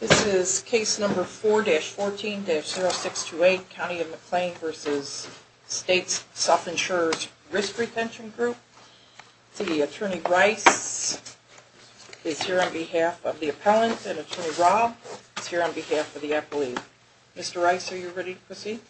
This is case number 4-14-0628, County of McLean v. States Self-Insurers Risk Retention Group. The attorney, Bryce, is here on behalf of the appellant. And attorney, Rob, is here on behalf of the appellee. Mr. Rice, are you ready to proceed?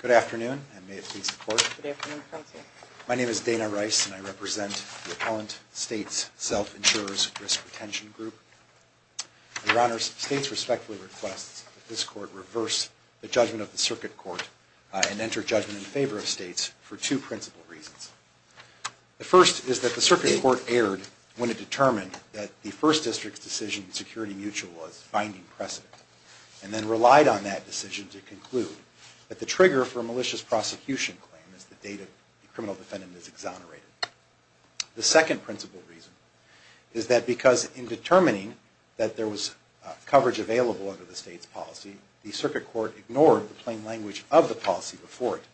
Good afternoon, and may it please the Court. Good afternoon, Counsel. My name is Dana Rice, and I represent the appellant, States Self-Insurers Risk Retention Group. Your Honors, States respectfully requests that this Court reverse the judgment of the Circuit Court and enter judgment in favor of States for two principal reasons. The first is that the Circuit Court erred when it determined that the first district's decision, security mutual, was finding precedent, and then relied on that decision to conclude that the trigger for a malicious prosecution claim is the date a criminal defendant is exonerated. The second principal reason is that because in determining that there was coverage available under the State's policy, the Circuit Court ignored the plain language of the policy before it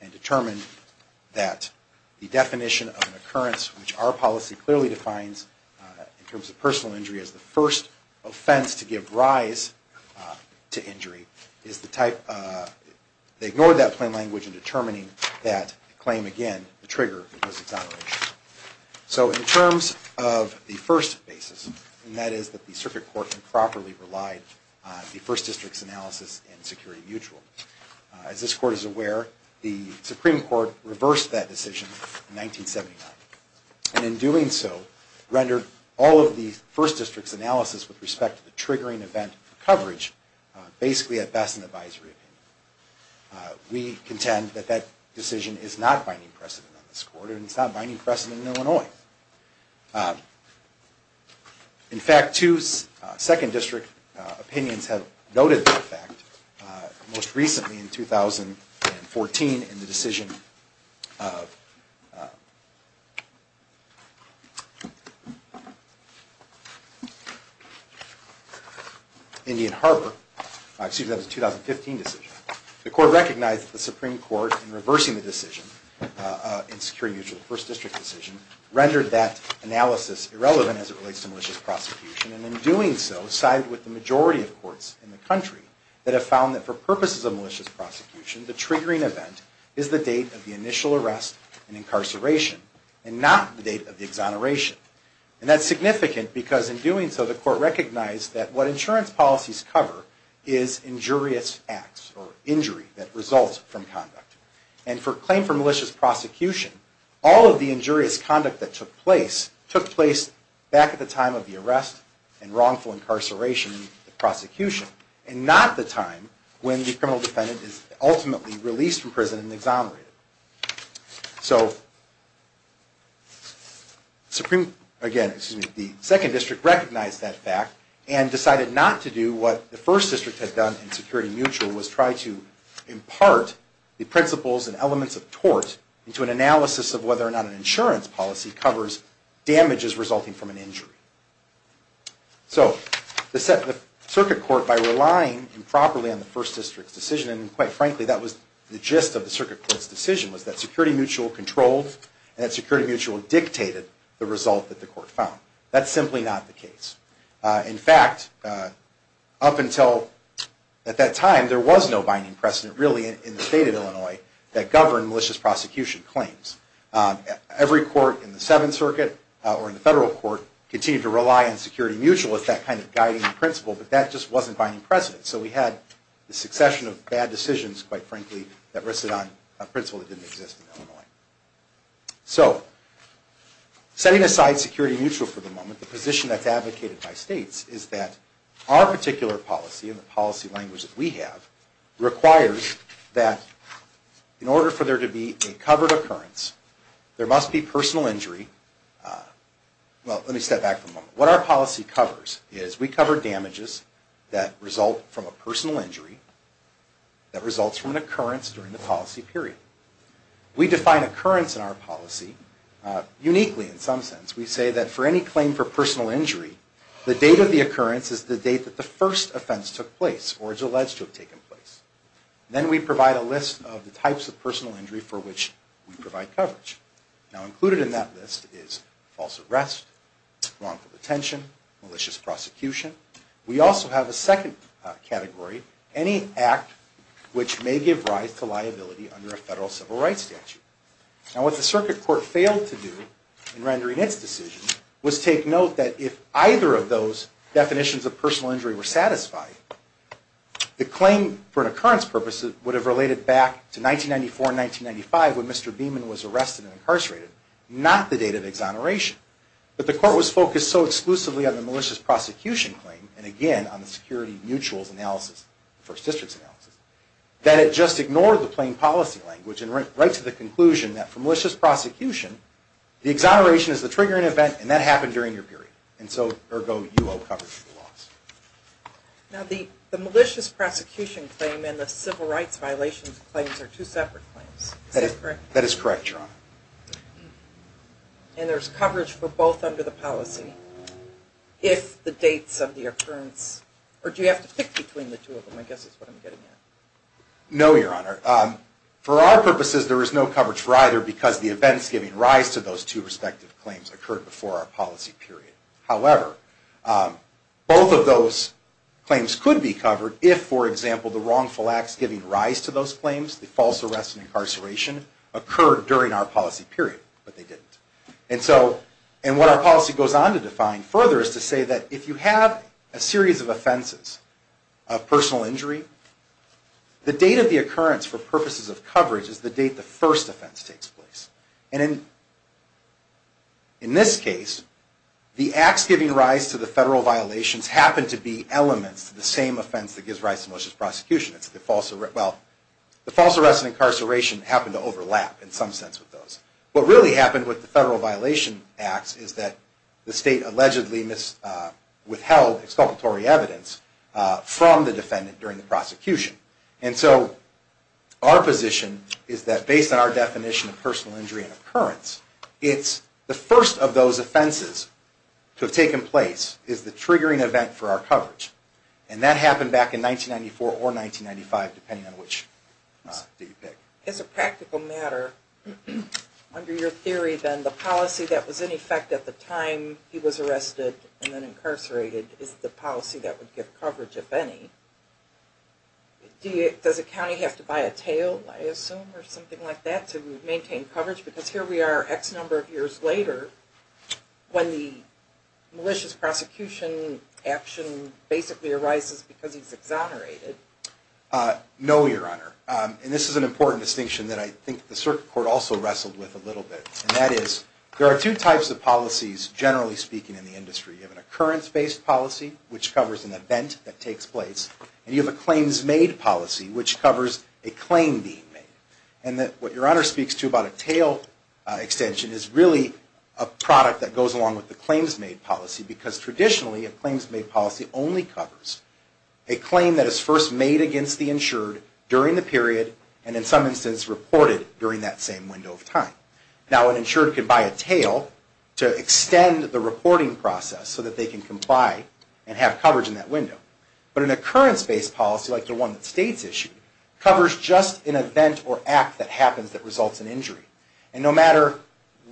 and determined that the definition of an occurrence, which our policy clearly defines in terms of personal injury as the first offense to give rise to injury, they ignored that plain language in determining that claim again, the trigger, was exonerated. So in terms of the first basis, and that is that the Circuit Court improperly relied on the first district's analysis and security mutual, as this Court is aware, the Supreme Court reversed that decision in 1979, and in doing so, rendered all of the first district's analysis with respect to the triggering event of coverage basically at best an advisory opinion. We contend that that decision is not finding precedent on this Court, and it's not finding precedent in Illinois. In fact, two second district opinions have noted that fact, most recently in 2014, and the decision of Indian Harbor, excuse me, that was a 2015 decision. The Court recognized that the Supreme Court, in reversing the decision in security mutual, the first district decision, rendered that analysis irrelevant as it relates to malicious prosecution, and in doing so, sided with the majority of courts in the country that have found that for purposes of malicious prosecution, the triggering event is the date of the initial arrest and incarceration, and not the date of the exoneration. And that's significant because in doing so, the Court recognized that what insurance policies cover is injurious acts or injury that results from conduct. And for claim for malicious prosecution, all of the injurious conduct that took place, took place back at the time of the arrest and wrongful incarceration in the prosecution, and not the time when the criminal defendant is ultimately released from prison and exonerated. So, Supreme, again, excuse me, the second district recognized that fact, and decided not to do what the first district had done in security mutual, was try to impart the principles and elements of tort into an analysis of whether or not So, the circuit court, by relying improperly on the first district's decision, and quite frankly, that was the gist of the circuit court's decision, was that security mutual controlled and that security mutual dictated the result that the court found. That's simply not the case. In fact, up until that time, there was no binding precedent, really, in the state of Illinois, that governed malicious prosecution claims. Every court in the Seventh Circuit, or in the federal court, continued to rely on security mutual as that kind of guiding principle, but that just wasn't binding precedent. So we had the succession of bad decisions, quite frankly, that rested on a principle that didn't exist in Illinois. So, setting aside security mutual for the moment, the position that's advocated by states is that our particular policy, and the policy language that we have, requires that in order for there to be a covered occurrence, there must be personal injury. Well, let me step back for a moment. What our policy covers is we cover damages that result from a personal injury that results from an occurrence during the policy period. We define occurrence in our policy uniquely, in some sense. We say that for any claim for personal injury, the date of the occurrence is the date that the first offense took place, or is alleged to have taken place. Then we provide a list of the types of personal injury for which we provide coverage. Now, included in that list is false arrest, wrongful detention, malicious prosecution. We also have a second category, any act which may give rise to liability under a federal civil rights statute. Now, what the Circuit Court failed to do in rendering its decision, was take note that if either of those definitions of personal injury were satisfied, the claim for an occurrence purpose would have related back to 1994 and 1995, when Mr. Beamon was arrested and incarcerated, not the date of exoneration. But the Court was focused so exclusively on the malicious prosecution claim, and again, on the security mutuals analysis, the First District's analysis, that it just ignored the plain policy language, and went right to the conclusion that for malicious prosecution, the exoneration is the triggering event, and that happened during your period. And so, ergo, you owe coverage for the loss. Now, the malicious prosecution claim and the civil rights violations claims are two separate claims. Is that correct? That is correct, Your Honor. And there's coverage for both under the policy, if the dates of the occurrence, or do you have to pick between the two of them, I guess is what I'm getting at. No, Your Honor. For our purposes, there is no coverage for either, because the events giving rise to those two respective claims occurred before our policy period. However, both of those claims could be covered if, for example, the wrongful acts giving rise to those claims, the false arrest and incarceration, occurred during our policy period, but they didn't. And so, and what our policy goes on to define further is to say that if you have a series of offenses, of personal injury, the date of the occurrence for purposes of coverage is the date the first offense takes place. And in this case, the acts giving rise to the federal violations happen to be elements to the same offense that gives rise to malicious prosecution. It's the false, well, the false arrest and incarceration happen to overlap in some sense with those. What really happened with the federal violation acts is that the state allegedly withheld exculpatory evidence from the defendant during the prosecution. And so, our position is that based on our definition of personal injury and occurrence, it's the first of those offenses to have taken place is the triggering event for our coverage. And that happened back in 1994 or 1995, depending on which state you pick. As a practical matter, under your theory then, the policy that was in effect at the time he was arrested and then incarcerated is the policy that would give coverage, if any. Does a county have to buy a tail, I assume, or something like that to maintain coverage? Because here we are X number of years later when the malicious prosecution action basically arises because he's exonerated. No, Your Honor. And this is an important distinction that I think the circuit court also wrestled with a little bit. And that is there are two types of policies, generally speaking, in the industry. You have an occurrence-based policy, which covers an event that takes place. And you have a claims-made policy, which covers a claim being made. And what Your Honor speaks to about a tail extension is really a product that goes along with the claims-made policy because traditionally a claims-made policy only covers a claim that is first made against the insured during the period Now an insured can buy a tail to extend the reporting process so that they can comply and have coverage in that window. But an occurrence-based policy, like the one that State's issued, covers just an event or act that happens that results in injury. And no matter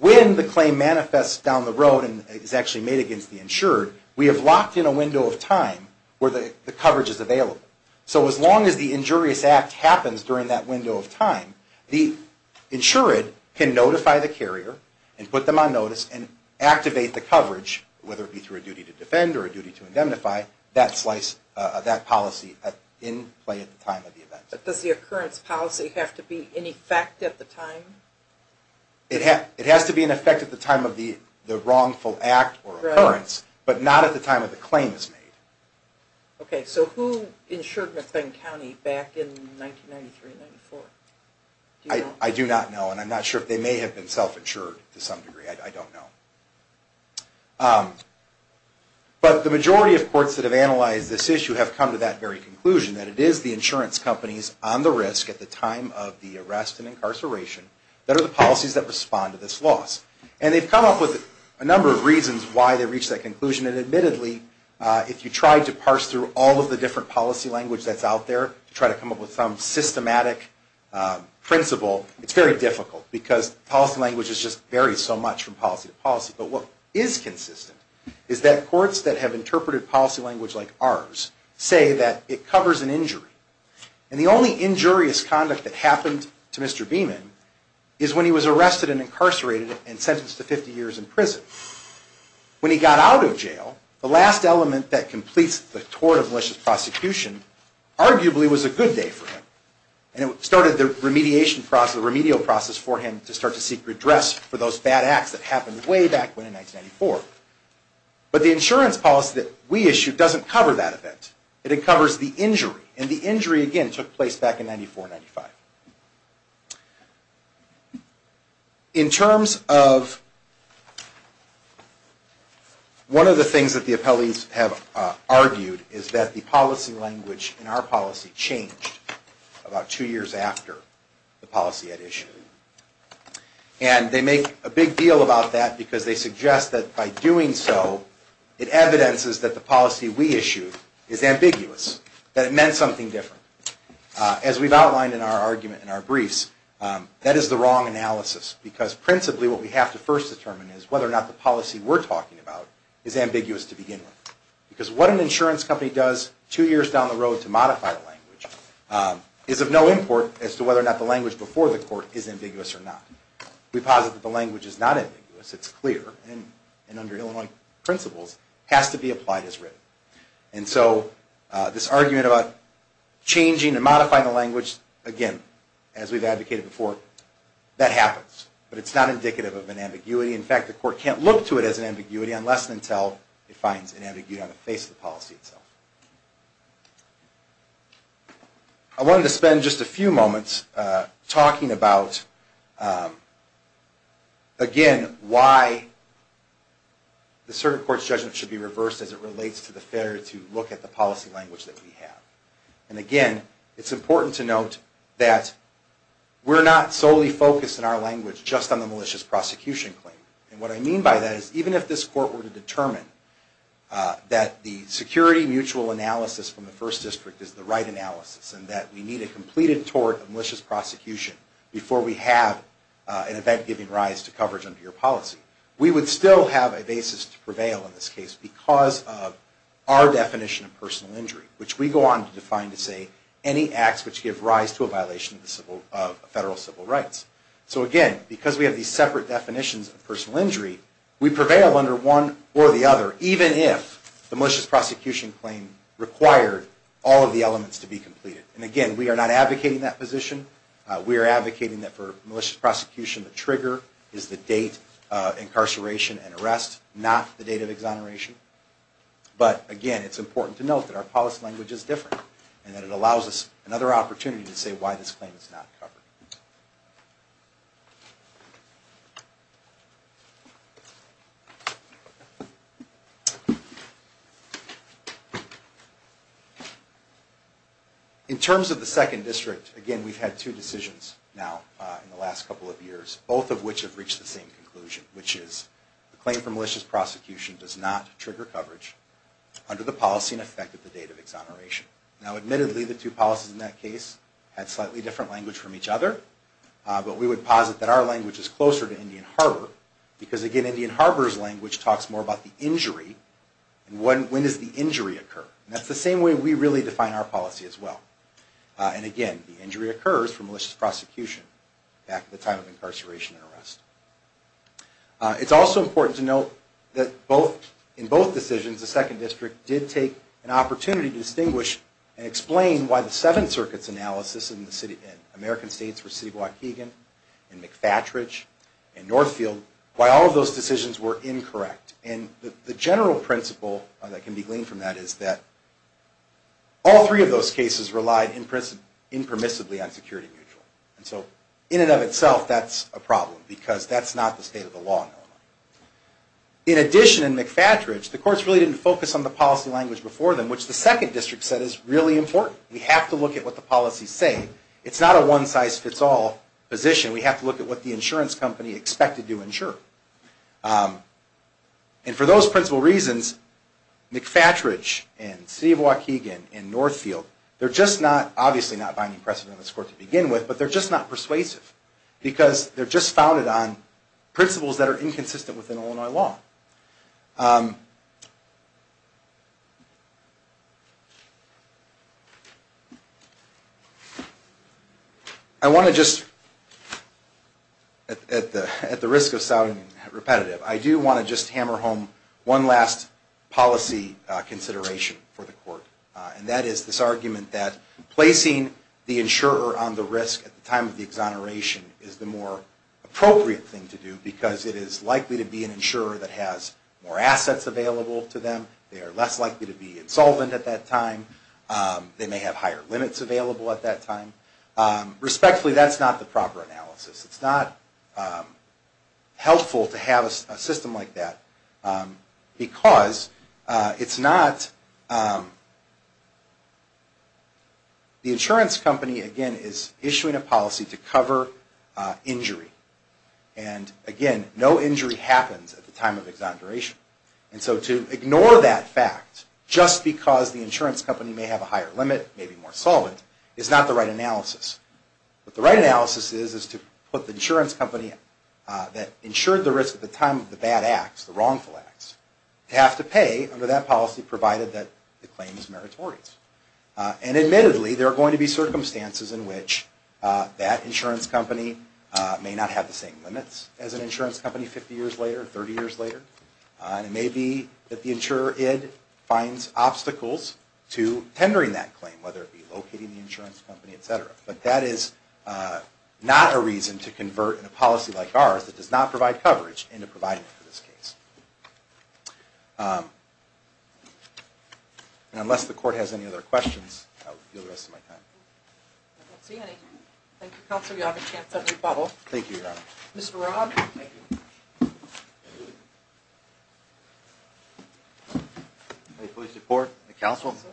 when the claim manifests down the road and is actually made against the insured, we have locked in a window of time where the coverage is available. So as long as the injurious act happens during that window of time, the insured can notify the carrier and put them on notice and activate the coverage, whether it be through a duty to defend or a duty to indemnify, that policy in play at the time of the event. But does the occurrence policy have to be in effect at the time? It has to be in effect at the time of the wrongful act or occurrence, but not at the time of the claim is made. Okay, so who insured McBain County back in 1993-94? I do not know, and I'm not sure if they may have been self-insured to some degree. I don't know. But the majority of courts that have analyzed this issue have come to that very conclusion, that it is the insurance companies on the risk at the time of the arrest and incarceration that are the policies that respond to this loss. And they've come up with a number of reasons why they've reached that conclusion. And admittedly, if you try to parse through all of the different policy language that's out there, try to come up with some systematic principle, it's very difficult, because policy language just varies so much from policy to policy. But what is consistent is that courts that have interpreted policy language like ours say that it covers an injury. And the only injurious conduct that happened to Mr. Beaman is when he was arrested and incarcerated and sentenced to 50 years in prison. When he got out of jail, the last element that completes the tort of malicious prosecution arguably was a good day for him. And it started the remediation process, the remedial process for him to start to seek redress for those bad acts that happened way back when in 1994. But the insurance policy that we issued doesn't cover that event. It uncovers the injury, and the injury again took place back in 1994-95. In terms of one of the things that the appellees have argued is that the policy language in our policy changed about two years after the policy had issued. And they make a big deal about that because they suggest that by doing so, it evidences that the policy we issued is ambiguous, that it meant something different. As we've outlined in our argument in our briefs, that is the wrong analysis because principally what we have to first determine is whether or not the policy we're talking about is ambiguous to begin with. Because what an insurance company does two years down the road to modify a language is of no import as to whether or not the language before the court is ambiguous or not. We posit that the language is not ambiguous, it's clear, and under Illinois principles, has to be applied as written. And so this argument about changing and modifying the language, again, as we've advocated before, that happens, but it's not indicative of an ambiguity. In fact, the court can't look to it as an ambiguity unless and until it finds an ambiguity on the face of the policy itself. I wanted to spend just a few moments talking about, again, why the circuit court's judgment should be reversed as it relates to the failure to look at the policy language that we have. And again, it's important to note that we're not solely focused in our language just on the malicious prosecution claim. And what I mean by that is even if this court were to determine that the security mutual analysis from the First District is the right analysis and that we need a completed tort of malicious prosecution before we have an event giving rise to coverage under your policy, we would still have a basis to prevail in this case because of our definition of personal injury, which we go on to define to say any acts which give rise to a violation of federal civil rights. So again, because we have these separate definitions of personal injury, we prevail under one or the other, even if the malicious prosecution claim required all of the elements to be completed. And again, we are not advocating that position. We are advocating that for malicious prosecution, the trigger is the date of incarceration and arrest, not the date of exoneration. But again, it's important to note that our policy language is different and that it allows us another opportunity to say why this claim is not covered. In terms of the Second District, again, we've had two decisions now in the last couple of years, both of which have reached the same conclusion, which is the claim for malicious prosecution does not trigger coverage under the policy in effect at the date of exoneration. Now, admittedly, the two policies in that case had slightly different language from each other, but we would posit that our language is closer to Indian Harbor because, again, Indian Harbor's language talks more about the injury and when does the injury occur. And that's the same way we really define our policy as well. And again, the injury occurs for malicious prosecution back at the time of incarceration and arrest. It's also important to note that in both decisions, the Second District did take an opportunity to distinguish and explain why the Seventh Circuit's analysis in the American states, for City of Waukegan and McFatridge and Northfield, why all of those decisions were incorrect. And the general principle that can be gleaned from that is that all three of those cases relied impermissibly on security mutual. And so, in and of itself, that's a problem because that's not the state of the law. In addition, in McFatridge, the courts really didn't focus on the policy language before them, which the Second District said is really important. We have to look at what the policies say. It's not a one-size-fits-all position. We have to look at what the insurance company expected to insure. And for those principal reasons, McFatridge and City of Waukegan and Northfield, they're just not, obviously not binding precedent in this court to begin with, but they're just not persuasive because they're just founded on principles that are inconsistent with Illinois law. I want to just, at the risk of sounding repetitive, I do want to just hammer home one last policy consideration for the court, and that is this argument that placing the insurer on the risk at the time of the exoneration is the more appropriate thing to do because it is likely to be an insurer that has more assets available to them. They are less likely to be insolvent at that time. They may have higher limits available at that time. Respectfully, that's not the proper analysis. It's not helpful to have a system like that because it's not... The insurance company, again, is issuing a policy to cover injury. And again, no injury happens at the time of exoneration. And so to ignore that fact just because the insurance company may have a higher limit, maybe more solvent, is not the right analysis. But the right analysis is to put the insurance company that insured the risk at the time of the bad acts, the wrongful acts, to have to pay under that policy provided that the claim is meritorious. And admittedly, there are going to be circumstances in which that insurance company may not have the same limits as an insurance company 50 years later, 30 years later. And it may be that the insurer finds obstacles to tendering that claim, whether it be locating the insurance company, et cetera. But that is not a reason to convert in a policy like ours that does not provide coverage into providing for this case. And unless the court has any other questions, I will deal with the rest of my time. I don't see any. Thank you, counsel. You have a chance at a rebuttal. Thank you, Your Honor. Mr. Robb. Thank you. May I please report to the counsel? Yes,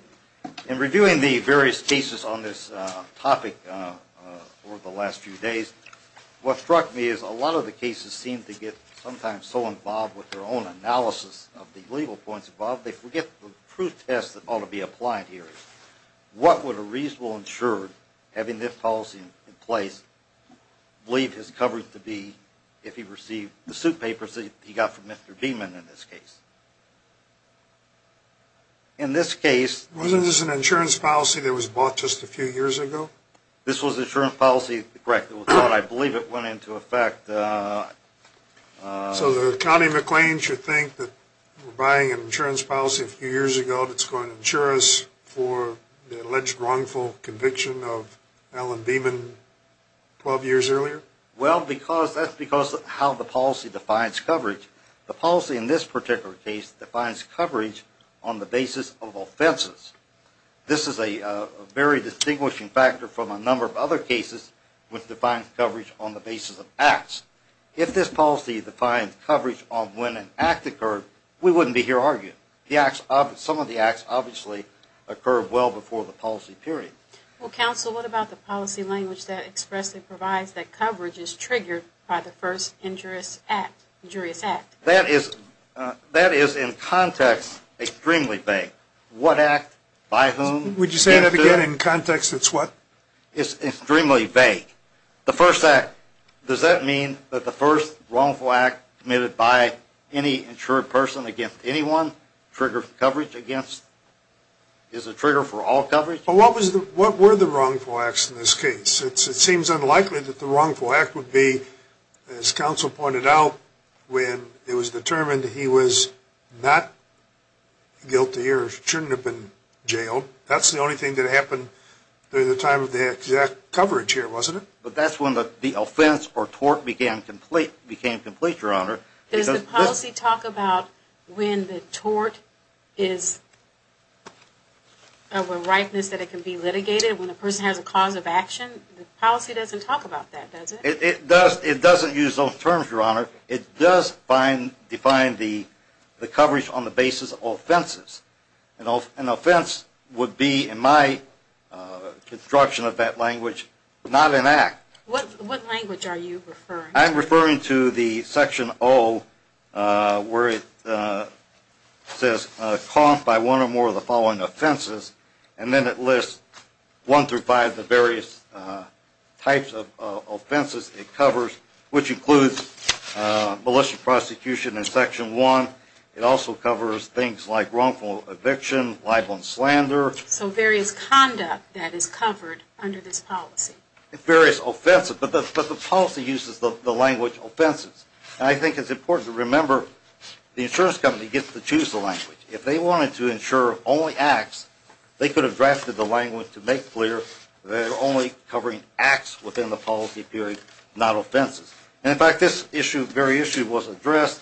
counsel. In reviewing the various cases on this topic over the last few days, what struck me is a lot of the cases seem to get sometimes so involved with their own analysis of the legal points involved, they forget the proof test that ought to be applied here. What would a reasonable insurer, having this policy in place, believe his coverage to be if he received the suit papers that he got from Mr. Beamon in this case? In this case... Wasn't this an insurance policy that was bought just a few years ago? This was an insurance policy. Correct. I believe it went into effect... So the county of McLean should think that we're buying an insurance policy a few years ago that's going to insure us for the alleged wrongful conviction of Alan Beamon 12 years earlier? Well, that's because of how the policy defines coverage. The policy in this particular case defines coverage on the basis of offenses. This is a very distinguishing factor from a number of other cases which defines coverage on the basis of acts. If this policy defines coverage on when an act occurred, we wouldn't be here arguing. Some of the acts obviously occurred well before the policy period. Well, counsel, what about the policy language that expressly provides that coverage is triggered by the first injurious act? That is, in context, extremely vague. What act, by whom... Would you say that again? In context, it's what? It's extremely vague. The first act, does that mean that the first wrongful act committed by any insured person against anyone is a trigger for all coverage? Well, what were the wrongful acts in this case? It seems unlikely that the wrongful act would be, as counsel pointed out, when it was determined he was not guilty or shouldn't have been jailed. That's the only thing that happened during the time of the exact coverage here, wasn't it? But that's when the offense or tort became complete, Your Honor. Does the policy talk about when the tort is... The policy doesn't talk about that, does it? It doesn't use those terms, Your Honor. It does define the coverage on the basis of offenses. An offense would be, in my construction of that language, not an act. What language are you referring to? I'm referring to the Section O, where it says, caught by one or more of the following offenses, and then it lists one through five of the various types of offenses it covers, which includes malicious prosecution in Section I. It also covers things like wrongful eviction, libel and slander. So various conduct that is covered under this policy. Various offenses, but the policy uses the language offenses. I think it's important to remember the insurance company gets to choose the language. If they wanted to insure only acts, they could have drafted the language to make clear they're only covering acts within the policy period, not offenses. In fact, this very issue was addressed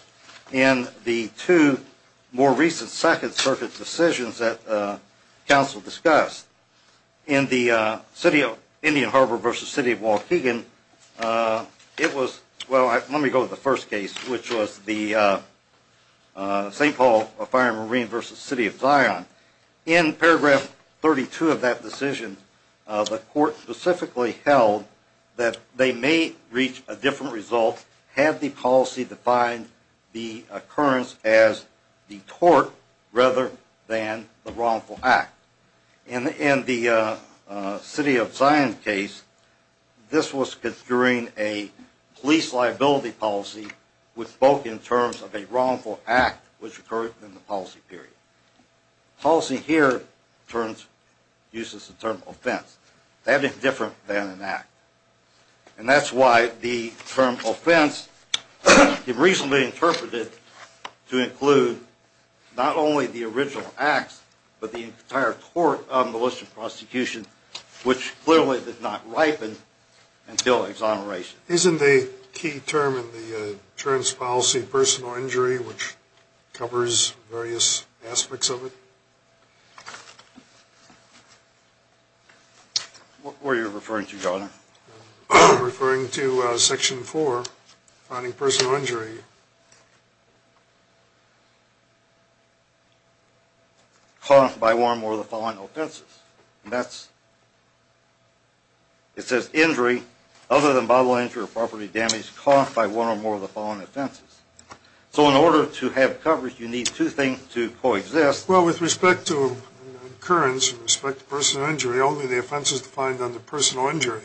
in the two more recent Second Circuit decisions that counsel discussed. In the Indian Harbor v. City of Waukegan, it was, well, let me go to the first case, which was the St. Paul Fire and Marine v. City of Zion. In paragraph 32 of that decision, the court specifically held that they may reach a different result had the policy defined the occurrence as the tort rather than the wrongful act. In the City of Zion case, this was construing a police liability policy which spoke in terms of a wrongful act which occurred in the policy period. Policy here uses the term offense. That is different than an act. And that's why the term offense is reasonably interpreted to include not only the original acts, but the entire tort of militia prosecution, which clearly did not ripen until exoneration. Isn't the key term in the insurance policy personal injury, which covers various aspects of it? What were you referring to, Your Honor? I'm referring to Section 4, finding personal injury caused by one or more of the following offenses. And that's, it says injury other than bodily injury or property damage caused by one or more of the following offenses. So in order to have coverage, you need two things to coexist. Well, with respect to occurrence and respect to personal injury, only the offense is defined under personal injury.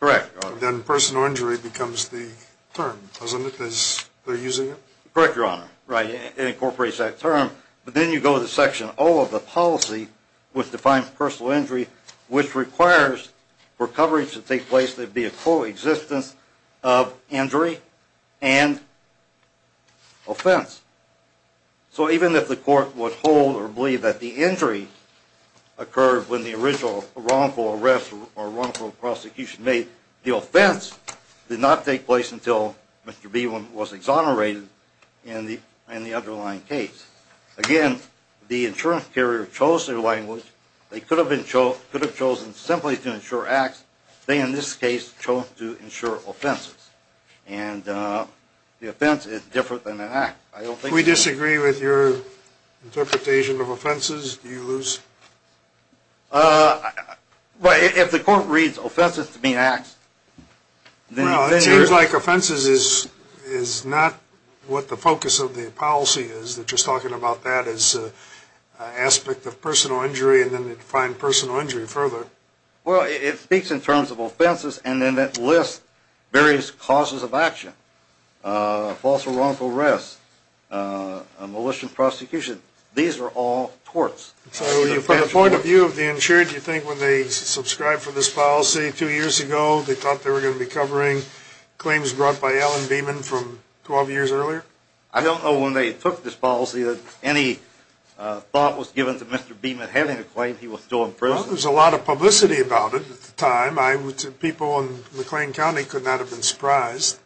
Correct, Your Honor. Then personal injury becomes the term, doesn't it, as they're using it? Correct, Your Honor. Right, it incorporates that term. But then you go to Section O of the policy, which defines personal injury, which requires for coverage to take place, there'd be a coexistence of injury and offense. So even if the court would hold or believe that the injury occurred when the original wrongful arrest or wrongful prosecution made, the offense did not take place until Mr. Beaumont was exonerated in the underlying case. Again, the insurance carrier chose their language. They could have chosen simply to insure acts. They, in this case, chose to insure offenses. And the offense is different than an act. Do we disagree with your interpretation of offenses? Do you lose? If the court reads offenses to be an act, then you lose. Well, it seems like offenses is not what the focus of the policy is. They're just talking about that as an aspect of personal injury, and then they define personal injury further. Well, it speaks in terms of offenses, and then it lists various causes of action, false or wrongful arrest, a malicious prosecution. These are all torts. So from the point of view of the insured, do you think when they subscribed for this policy two years ago, they thought they were going to be covering claims brought by Alan Beaumont from 12 years earlier? I don't know when they took this policy that any thought was given to Mr. Beaumont having a claim he was still in prison. Well, there was a lot of publicity about it at the time. People in McLean County could not have been surprised.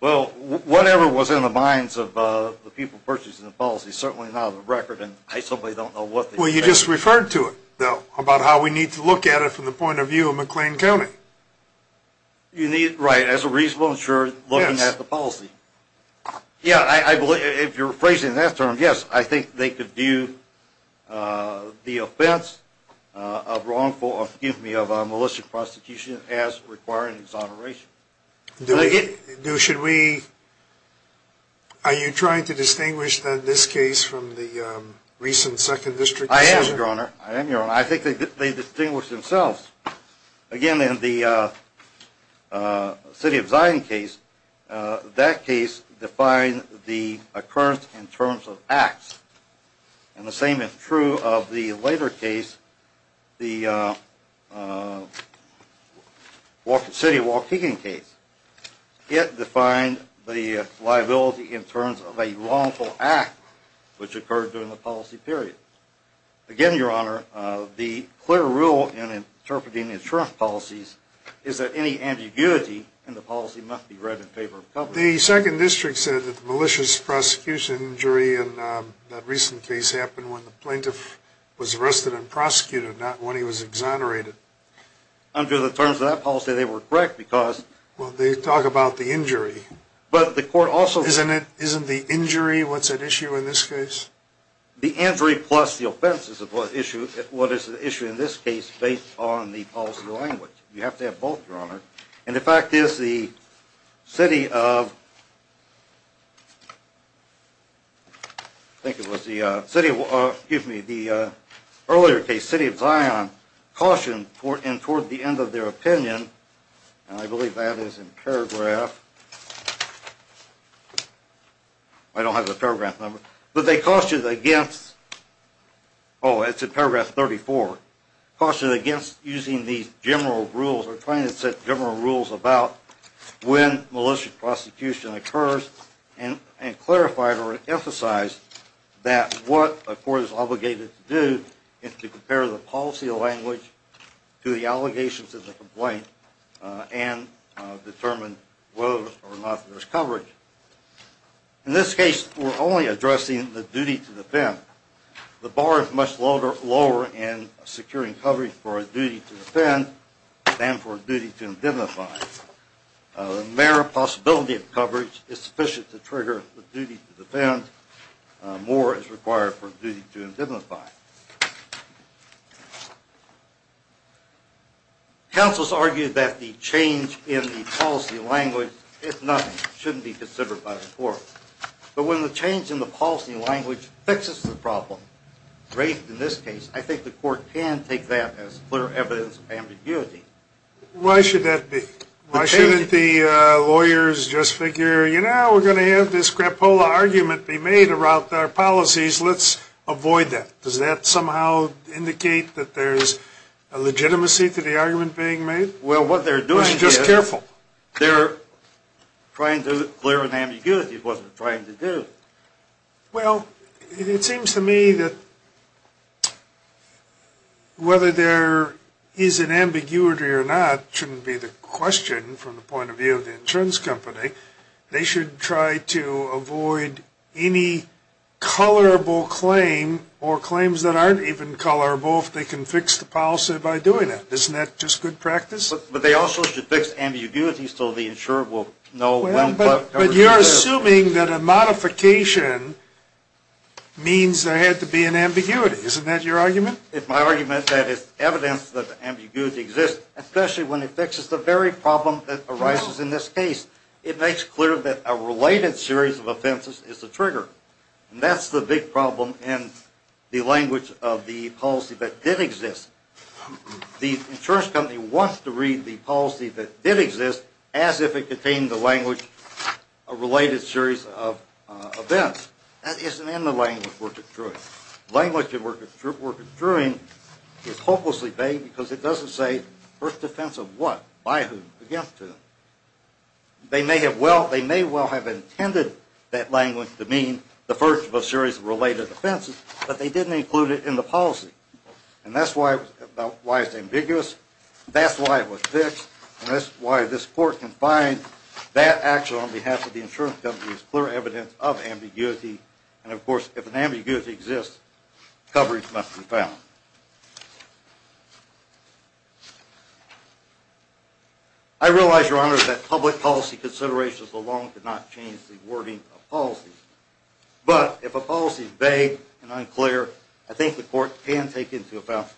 Well, whatever was in the minds of the people purchasing the policy is certainly not on the record, and I simply don't know what they think. Well, you just referred to it, though, about how we need to look at it from the point of view of McLean County. Right, as a reasonable insured looking at the policy. Yeah, if you're phrasing that term, yes, I think they could view the offense of wrongful or, excuse me, of a malicious prosecution as requiring exoneration. Are you trying to distinguish, then, this case from the recent Second District decision? I am, Your Honor. I think they distinguish themselves. Again, in the City of Zion case, that case defined the occurrence in terms of acts. And the same is true of the later case, the City of Waukegan case. It defined the liability in terms of a wrongful act which occurred during the policy period. Again, Your Honor, the clear rule in interpreting insurance policies is that any ambiguity in the policy must be read in favor of the public. The Second District said that the malicious prosecution injury in that recent case happened when the plaintiff was arrested and prosecuted, not when he was exonerated. Under the terms of that policy, they were correct because... Well, they talk about the injury. But the court also... Isn't the injury what's at issue in this case? The injury plus the offense is what is at issue in this case based on the policy language. You have to have both, Your Honor. And the fact is the City of... I think it was the City of... Excuse me, the earlier case, City of Zion, cautioned and toward the end of their opinion, and I believe that is in paragraph... I don't have the paragraph number. But they cautioned against... Oh, it's in paragraph 34. Cautioned against using these general rules or trying to set general rules about when malicious prosecution occurs and clarified or emphasized that what a court is obligated to do is to compare the policy language to the allegations of the complaint and determine whether or not there's coverage. In this case, we're only addressing the duty to defend. The bar is much lower in securing coverage for a duty to defend than for a duty to indemnify. The mere possibility of coverage is sufficient to trigger the duty to defend. More is required for a duty to indemnify. Counsel's argued that the change in the policy language is nothing. It shouldn't be considered by the court. But when the change in the policy language fixes the problem, great in this case, I think the court can take that as clear evidence of ambiguity. Why should that be? Why shouldn't the lawyers just figure, you know, we're going to have this scrapola argument be made about our policies. Let's avoid that. Does that make sense? Does that somehow indicate that there's a legitimacy to the argument being made? Well, what they're doing is just careful. They're trying to clear an ambiguity. It wasn't trying to do. Well, it seems to me that whether there is an ambiguity or not shouldn't be the question from the point of view of the insurance company. They should try to avoid any colorable claim or claims that aren't even colorable if they can fix the policy by doing it. Isn't that just good practice? But they also should fix ambiguity so the insurer will know when. But you're assuming that a modification means there had to be an ambiguity. Isn't that your argument? It's my argument that it's evidence that ambiguity exists, especially when it fixes the very problem that arises in this case. It makes clear that a related series of offenses is the trigger, and that's the big problem in the language of the policy that did exist. The insurance company wants to read the policy that did exist as if it contained in the language a related series of events. That isn't in the language we're construing. The language we're construing is hopelessly vague because it doesn't say first offense of what, by whom, against whom. They may well have intended that language to mean the first of a series of related offenses, but they didn't include it in the policy. And that's why it's ambiguous. That's why it was fixed. And that's why this court can find that action on behalf of the insurance company is clear evidence of ambiguity. And, of course, if an ambiguity exists, coverage must be found. I realize, Your Honor, that public policy considerations alone could not change the wording of policy. But if a policy is vague and unclear, I think the court can take into account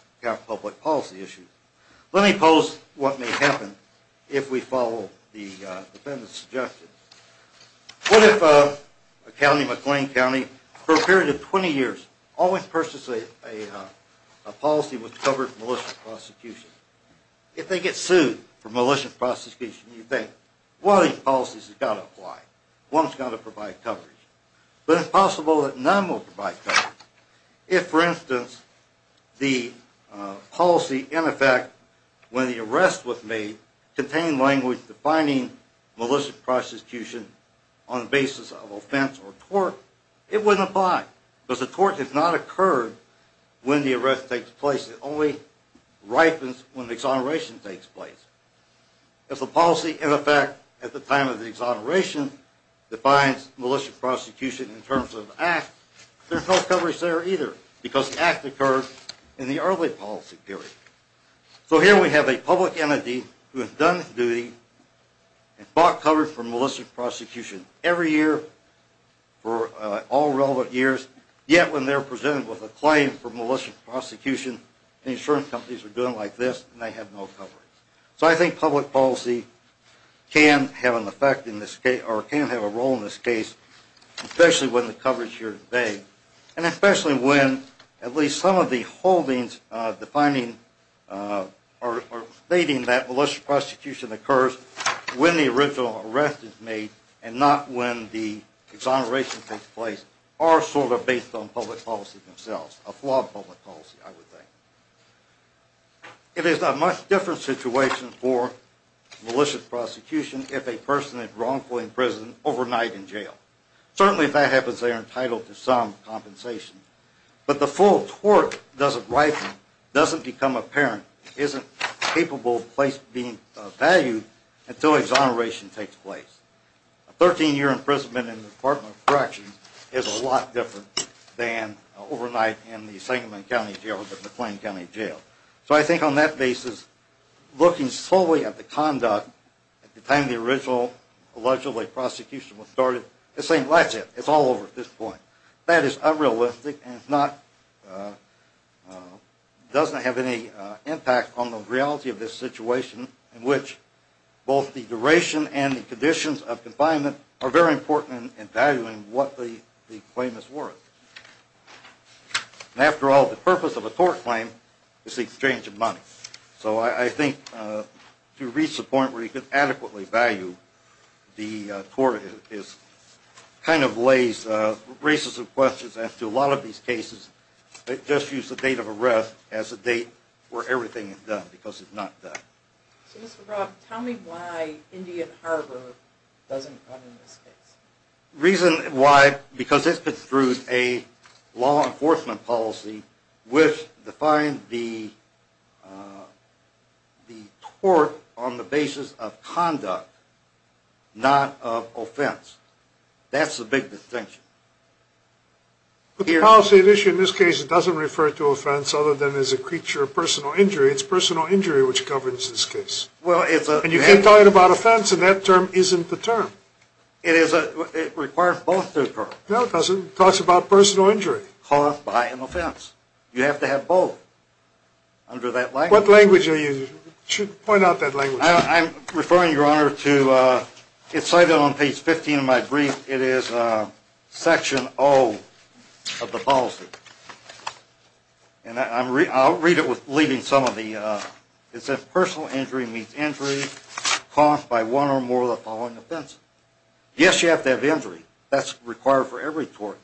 public policy issues. Let me pose what may happen if we follow the defendant's suggestions. What if a county, McLean County, for a period of 20 years, always purchased a policy which covered malicious prosecution? If they get sued for malicious prosecution, you think, one of these policies has got to apply. One's got to provide coverage. But it's possible that none will provide coverage. If, for instance, the policy, in effect, when the arrest was made, contained language defining malicious prosecution on the basis of offense or tort, it wouldn't apply. Because the tort has not occurred when the arrest takes place. It only ripens when the exoneration takes place. If the policy, in effect, at the time of the exoneration, defines malicious prosecution in terms of an act, there's no coverage there either because the act occurred in the early policy period. So here we have a public entity who has done its duty and bought coverage for malicious prosecution every year for all relevant years, yet when they're presented with a claim for malicious prosecution, the insurance companies are doing like this and they have no coverage. So I think public policy can have an effect in this case, or can have a role in this case, especially with the coverage here today, and especially when at least some of the holdings defining or stating that malicious prosecution occurs when the original arrest is made and not when the exoneration takes place are sort of based on public policy themselves, a flawed public policy, I would think. It is a much different situation for malicious prosecution if a person is wrongfully imprisoned overnight in jail. Certainly, if that happens, they are entitled to some compensation. But the full tort doesn't ripen, doesn't become apparent, isn't capable of being valued until exoneration takes place. A 13-year imprisonment in the Department of Corrections is a lot different than overnight in the Sangamon County Jail or the McLean County Jail. So I think on that basis, looking solely at the conduct at the time the original allegedly prosecution was started, it's saying that's it, it's all over at this point. That is unrealistic and doesn't have any impact on the reality of this situation in which both the duration and the conditions of confinement are very important in valuing what the claim is worth. After all, the purpose of a tort claim is the exchange of money. So I think to reach the point where you can adequately value the tort kind of raises questions as to a lot of these cases. They just use the date of arrest as a date where everything is done, because it's not done. So Mr. Robb, tell me why Indian Harbor doesn't come in this case. The reason why, because it's been through a law enforcement policy which defines the tort on the basis of conduct, not of offense. That's the big distinction. But the policy at issue in this case doesn't refer to offense other than as a creature of personal injury. It's personal injury which governs this case. And you keep talking about offense, and that term isn't the term. It requires both to occur. No, it doesn't. It talks about personal injury. Personal injury caused by an offense. You have to have both under that language. What language are you using? Point out that language. I'm referring, Your Honor, to it's cited on page 15 of my brief. It is section O of the policy. And I'll read it leaving some of the – it says personal injury means injury caused by one or more of the following offenses. Yes, you have to have injury. That's required for every tort.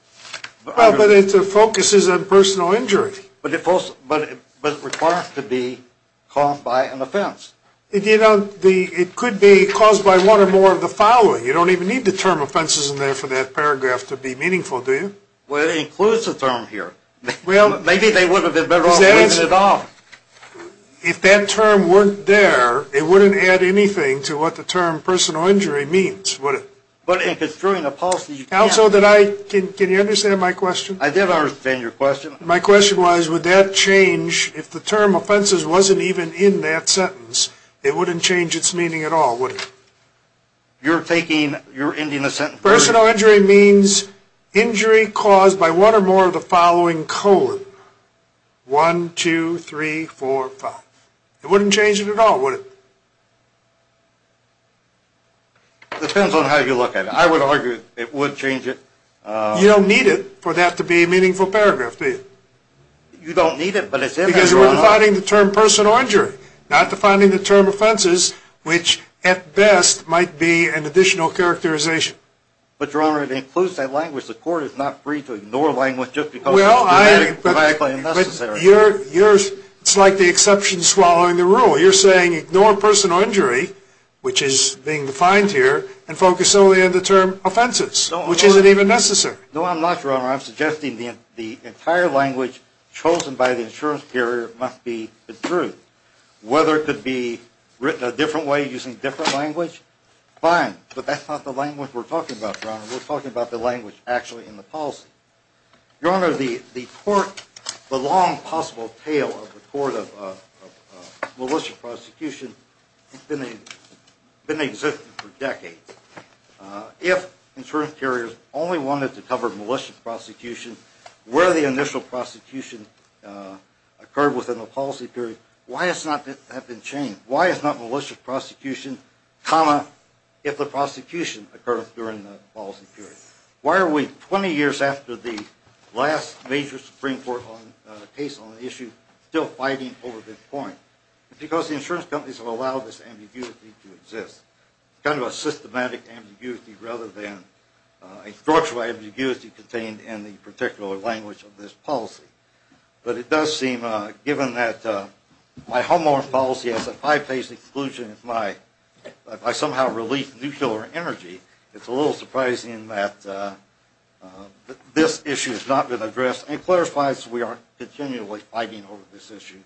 But it focuses on personal injury. But it requires to be caused by an offense. It could be caused by one or more of the following. You don't even need the term offenses in there for that paragraph to be meaningful, do you? Well, it includes the term here. Well, maybe they would have been better off leaving it off. If that term weren't there, it wouldn't add anything to what the term personal injury means. But if it's during a policy, you can't. Counsel, can you understand my question? I did understand your question. My question was, would that change if the term offenses wasn't even in that sentence? It wouldn't change its meaning at all, would it? You're ending the sentence. Personal injury means injury caused by one or more of the following colon. One, two, three, four, five. It wouldn't change it at all, would it? It depends on how you look at it. I would argue it would change it. You don't need it for that to be a meaningful paragraph, do you? You don't need it, but it's there. Because you're defining the term personal injury, not defining the term offenses, which at best might be an additional characterization. But, Your Honor, it includes that language. The court is not free to ignore language just because it's grammatically unnecessary. It's like the exception swallowing the rule. You're saying ignore personal injury, which is being defined here, and focus solely on the term offenses, which isn't even necessary. No, I'm not, Your Honor. I'm suggesting the entire language chosen by the insurance carrier must be the truth. Whether it could be written a different way using different language, fine. But that's not the language we're talking about, Your Honor. We're talking about the language actually in the policy. Your Honor, the court, the long possible tail of the court of militia prosecution, has been existing for decades. If insurance carriers only wanted to cover militia prosecution, where the initial prosecution occurred within the policy period, why has that not been changed? Why is not militia prosecution, if the prosecution occurred during the policy period? Why are we, 20 years after the last major Supreme Court case on the issue, still fighting over this point? It's because the insurance companies have allowed this ambiguity to exist, kind of a systematic ambiguity rather than a structural ambiguity contained in the particular language of this policy. But it does seem, given that my homeowner policy has a five-page exclusion, if I somehow release nuclear energy, it's a little surprising that this issue has not been addressed and clarifies we are continually fighting over this issue.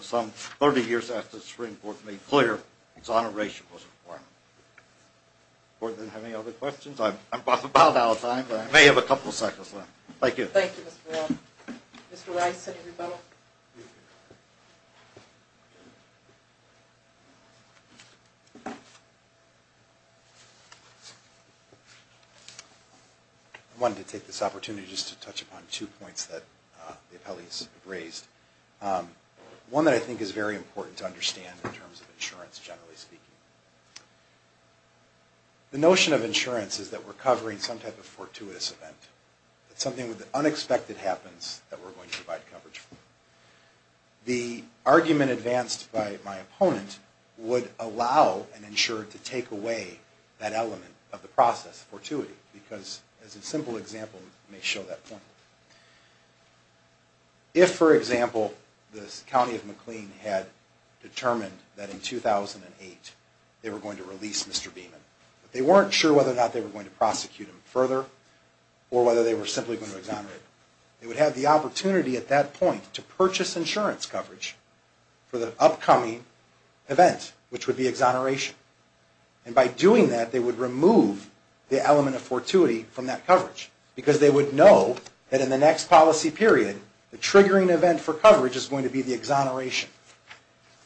Some 30 years after the Supreme Court made clear its honorable requirement. Does the court have any other questions? I'm about out of time, but I may have a couple of seconds left. Thank you. Thank you, Mr. Brown. Mr. Rice, Senate Rebuttal. I wanted to take this opportunity just to touch upon two points that the appellees have raised. One that I think is very important to understand in terms of insurance, generally speaking. The notion of insurance is that we're covering some type of fortuitous event. Something unexpected happens that we're going to provide coverage for. The argument advanced by my opponent would allow an insurer to take away that element of the process, fortuity, because as a simple example, it may show that point. If, for example, the county of McLean had determined that in 2008 they were going to release Mr. Beaman, but they weren't sure whether or not they were going to prosecute him further or whether they were simply going to exonerate him, they would have the opportunity at that point to purchase insurance coverage for the upcoming event, which would be exoneration. And by doing that, they would remove the element of fortuity from that coverage, because they would know that in the next policy period, the triggering event for coverage is going to be the exoneration.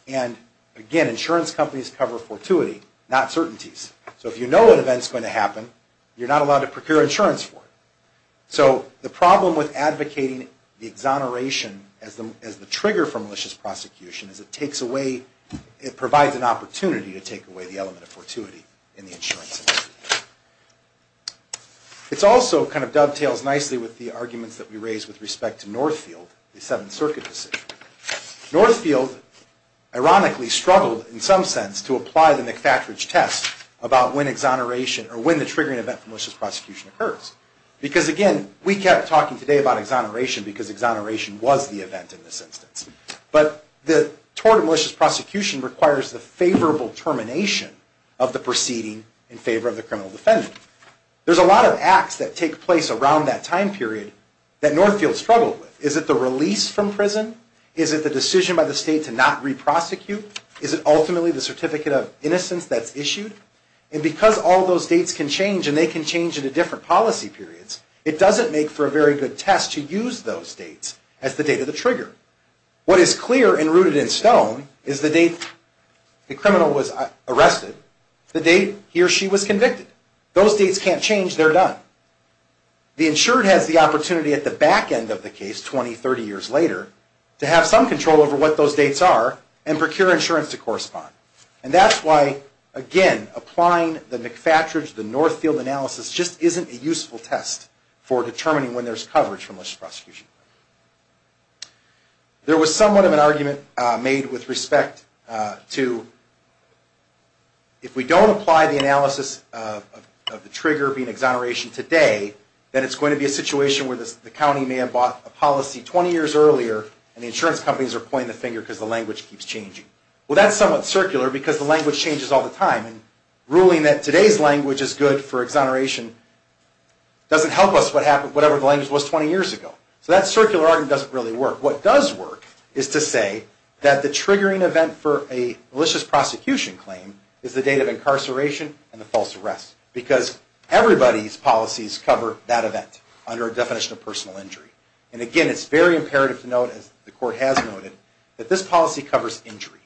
And again, insurance companies cover fortuity, not certainties. So if you know an event is going to happen, you're not allowed to procure insurance for it. So the problem with advocating the exoneration as the trigger for malicious prosecution is it takes away, it provides an opportunity to take away the element of fortuity in the insurance policy. It also kind of dovetails nicely with the arguments that we raised with respect to Northfield, the Seventh Circuit decision. Northfield, ironically, struggled in some sense to apply the McFatridge test about when exoneration, or when the triggering event for malicious prosecution occurs. Because again, we kept talking today about exoneration because exoneration was the event in this instance. But the tort of malicious prosecution requires the favorable termination of the proceeding in favor of the criminal defendant. There's a lot of acts that take place around that time period that Northfield struggled with. Is it the release from prison? Is it the decision by the state to not re-prosecute? Is it ultimately the certificate of innocence that's issued? And because all those dates can change, and they can change into different policy periods, it doesn't make for a very good test to use those dates as the date of the trigger. What is clear and rooted in stone is the date the criminal was arrested, the date he or she was convicted. Those dates can't change. They're done. The insured has the opportunity at the back end of the case, 20, 30 years later, to have some control over what those dates are and procure insurance to correspond. And that's why, again, applying the McFatridge, the Northfield analysis, just isn't a useful test for determining when there's coverage for malicious prosecution. There was somewhat of an argument made with respect to if we don't apply the analysis of the trigger being exoneration today, that it's going to be a situation where the county may have bought a policy 20 years earlier and the insurance companies are pointing the finger because the language keeps changing. Well, that's somewhat circular because the language changes all the time. And ruling that today's language is good for exoneration doesn't help us with whatever the language was 20 years ago. So that circular argument doesn't really work. What does work is to say that the triggering event for a malicious prosecution claim is the date of incarceration and the false arrest. Because everybody's policies cover that event under a definition of personal injury. And again, it's very imperative to note, as the Court has noted, that this policy covers injury.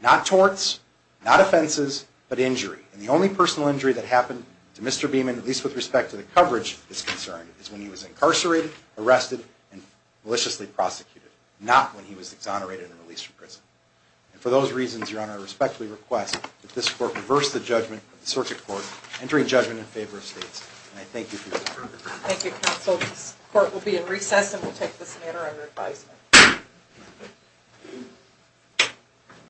Not torts, not offenses, but injury. And the only personal injury that happened to Mr. Beamon, at least with respect to the coverage, is concerned, is when he was incarcerated, arrested, and maliciously prosecuted. And for those reasons, Your Honor, I respectfully request that this Court reverse the judgment of the Circuit Court entering judgment in favor of states. And I thank you for your time. Thank you, Counsel. This Court will be in recess and will take this matter under advisement.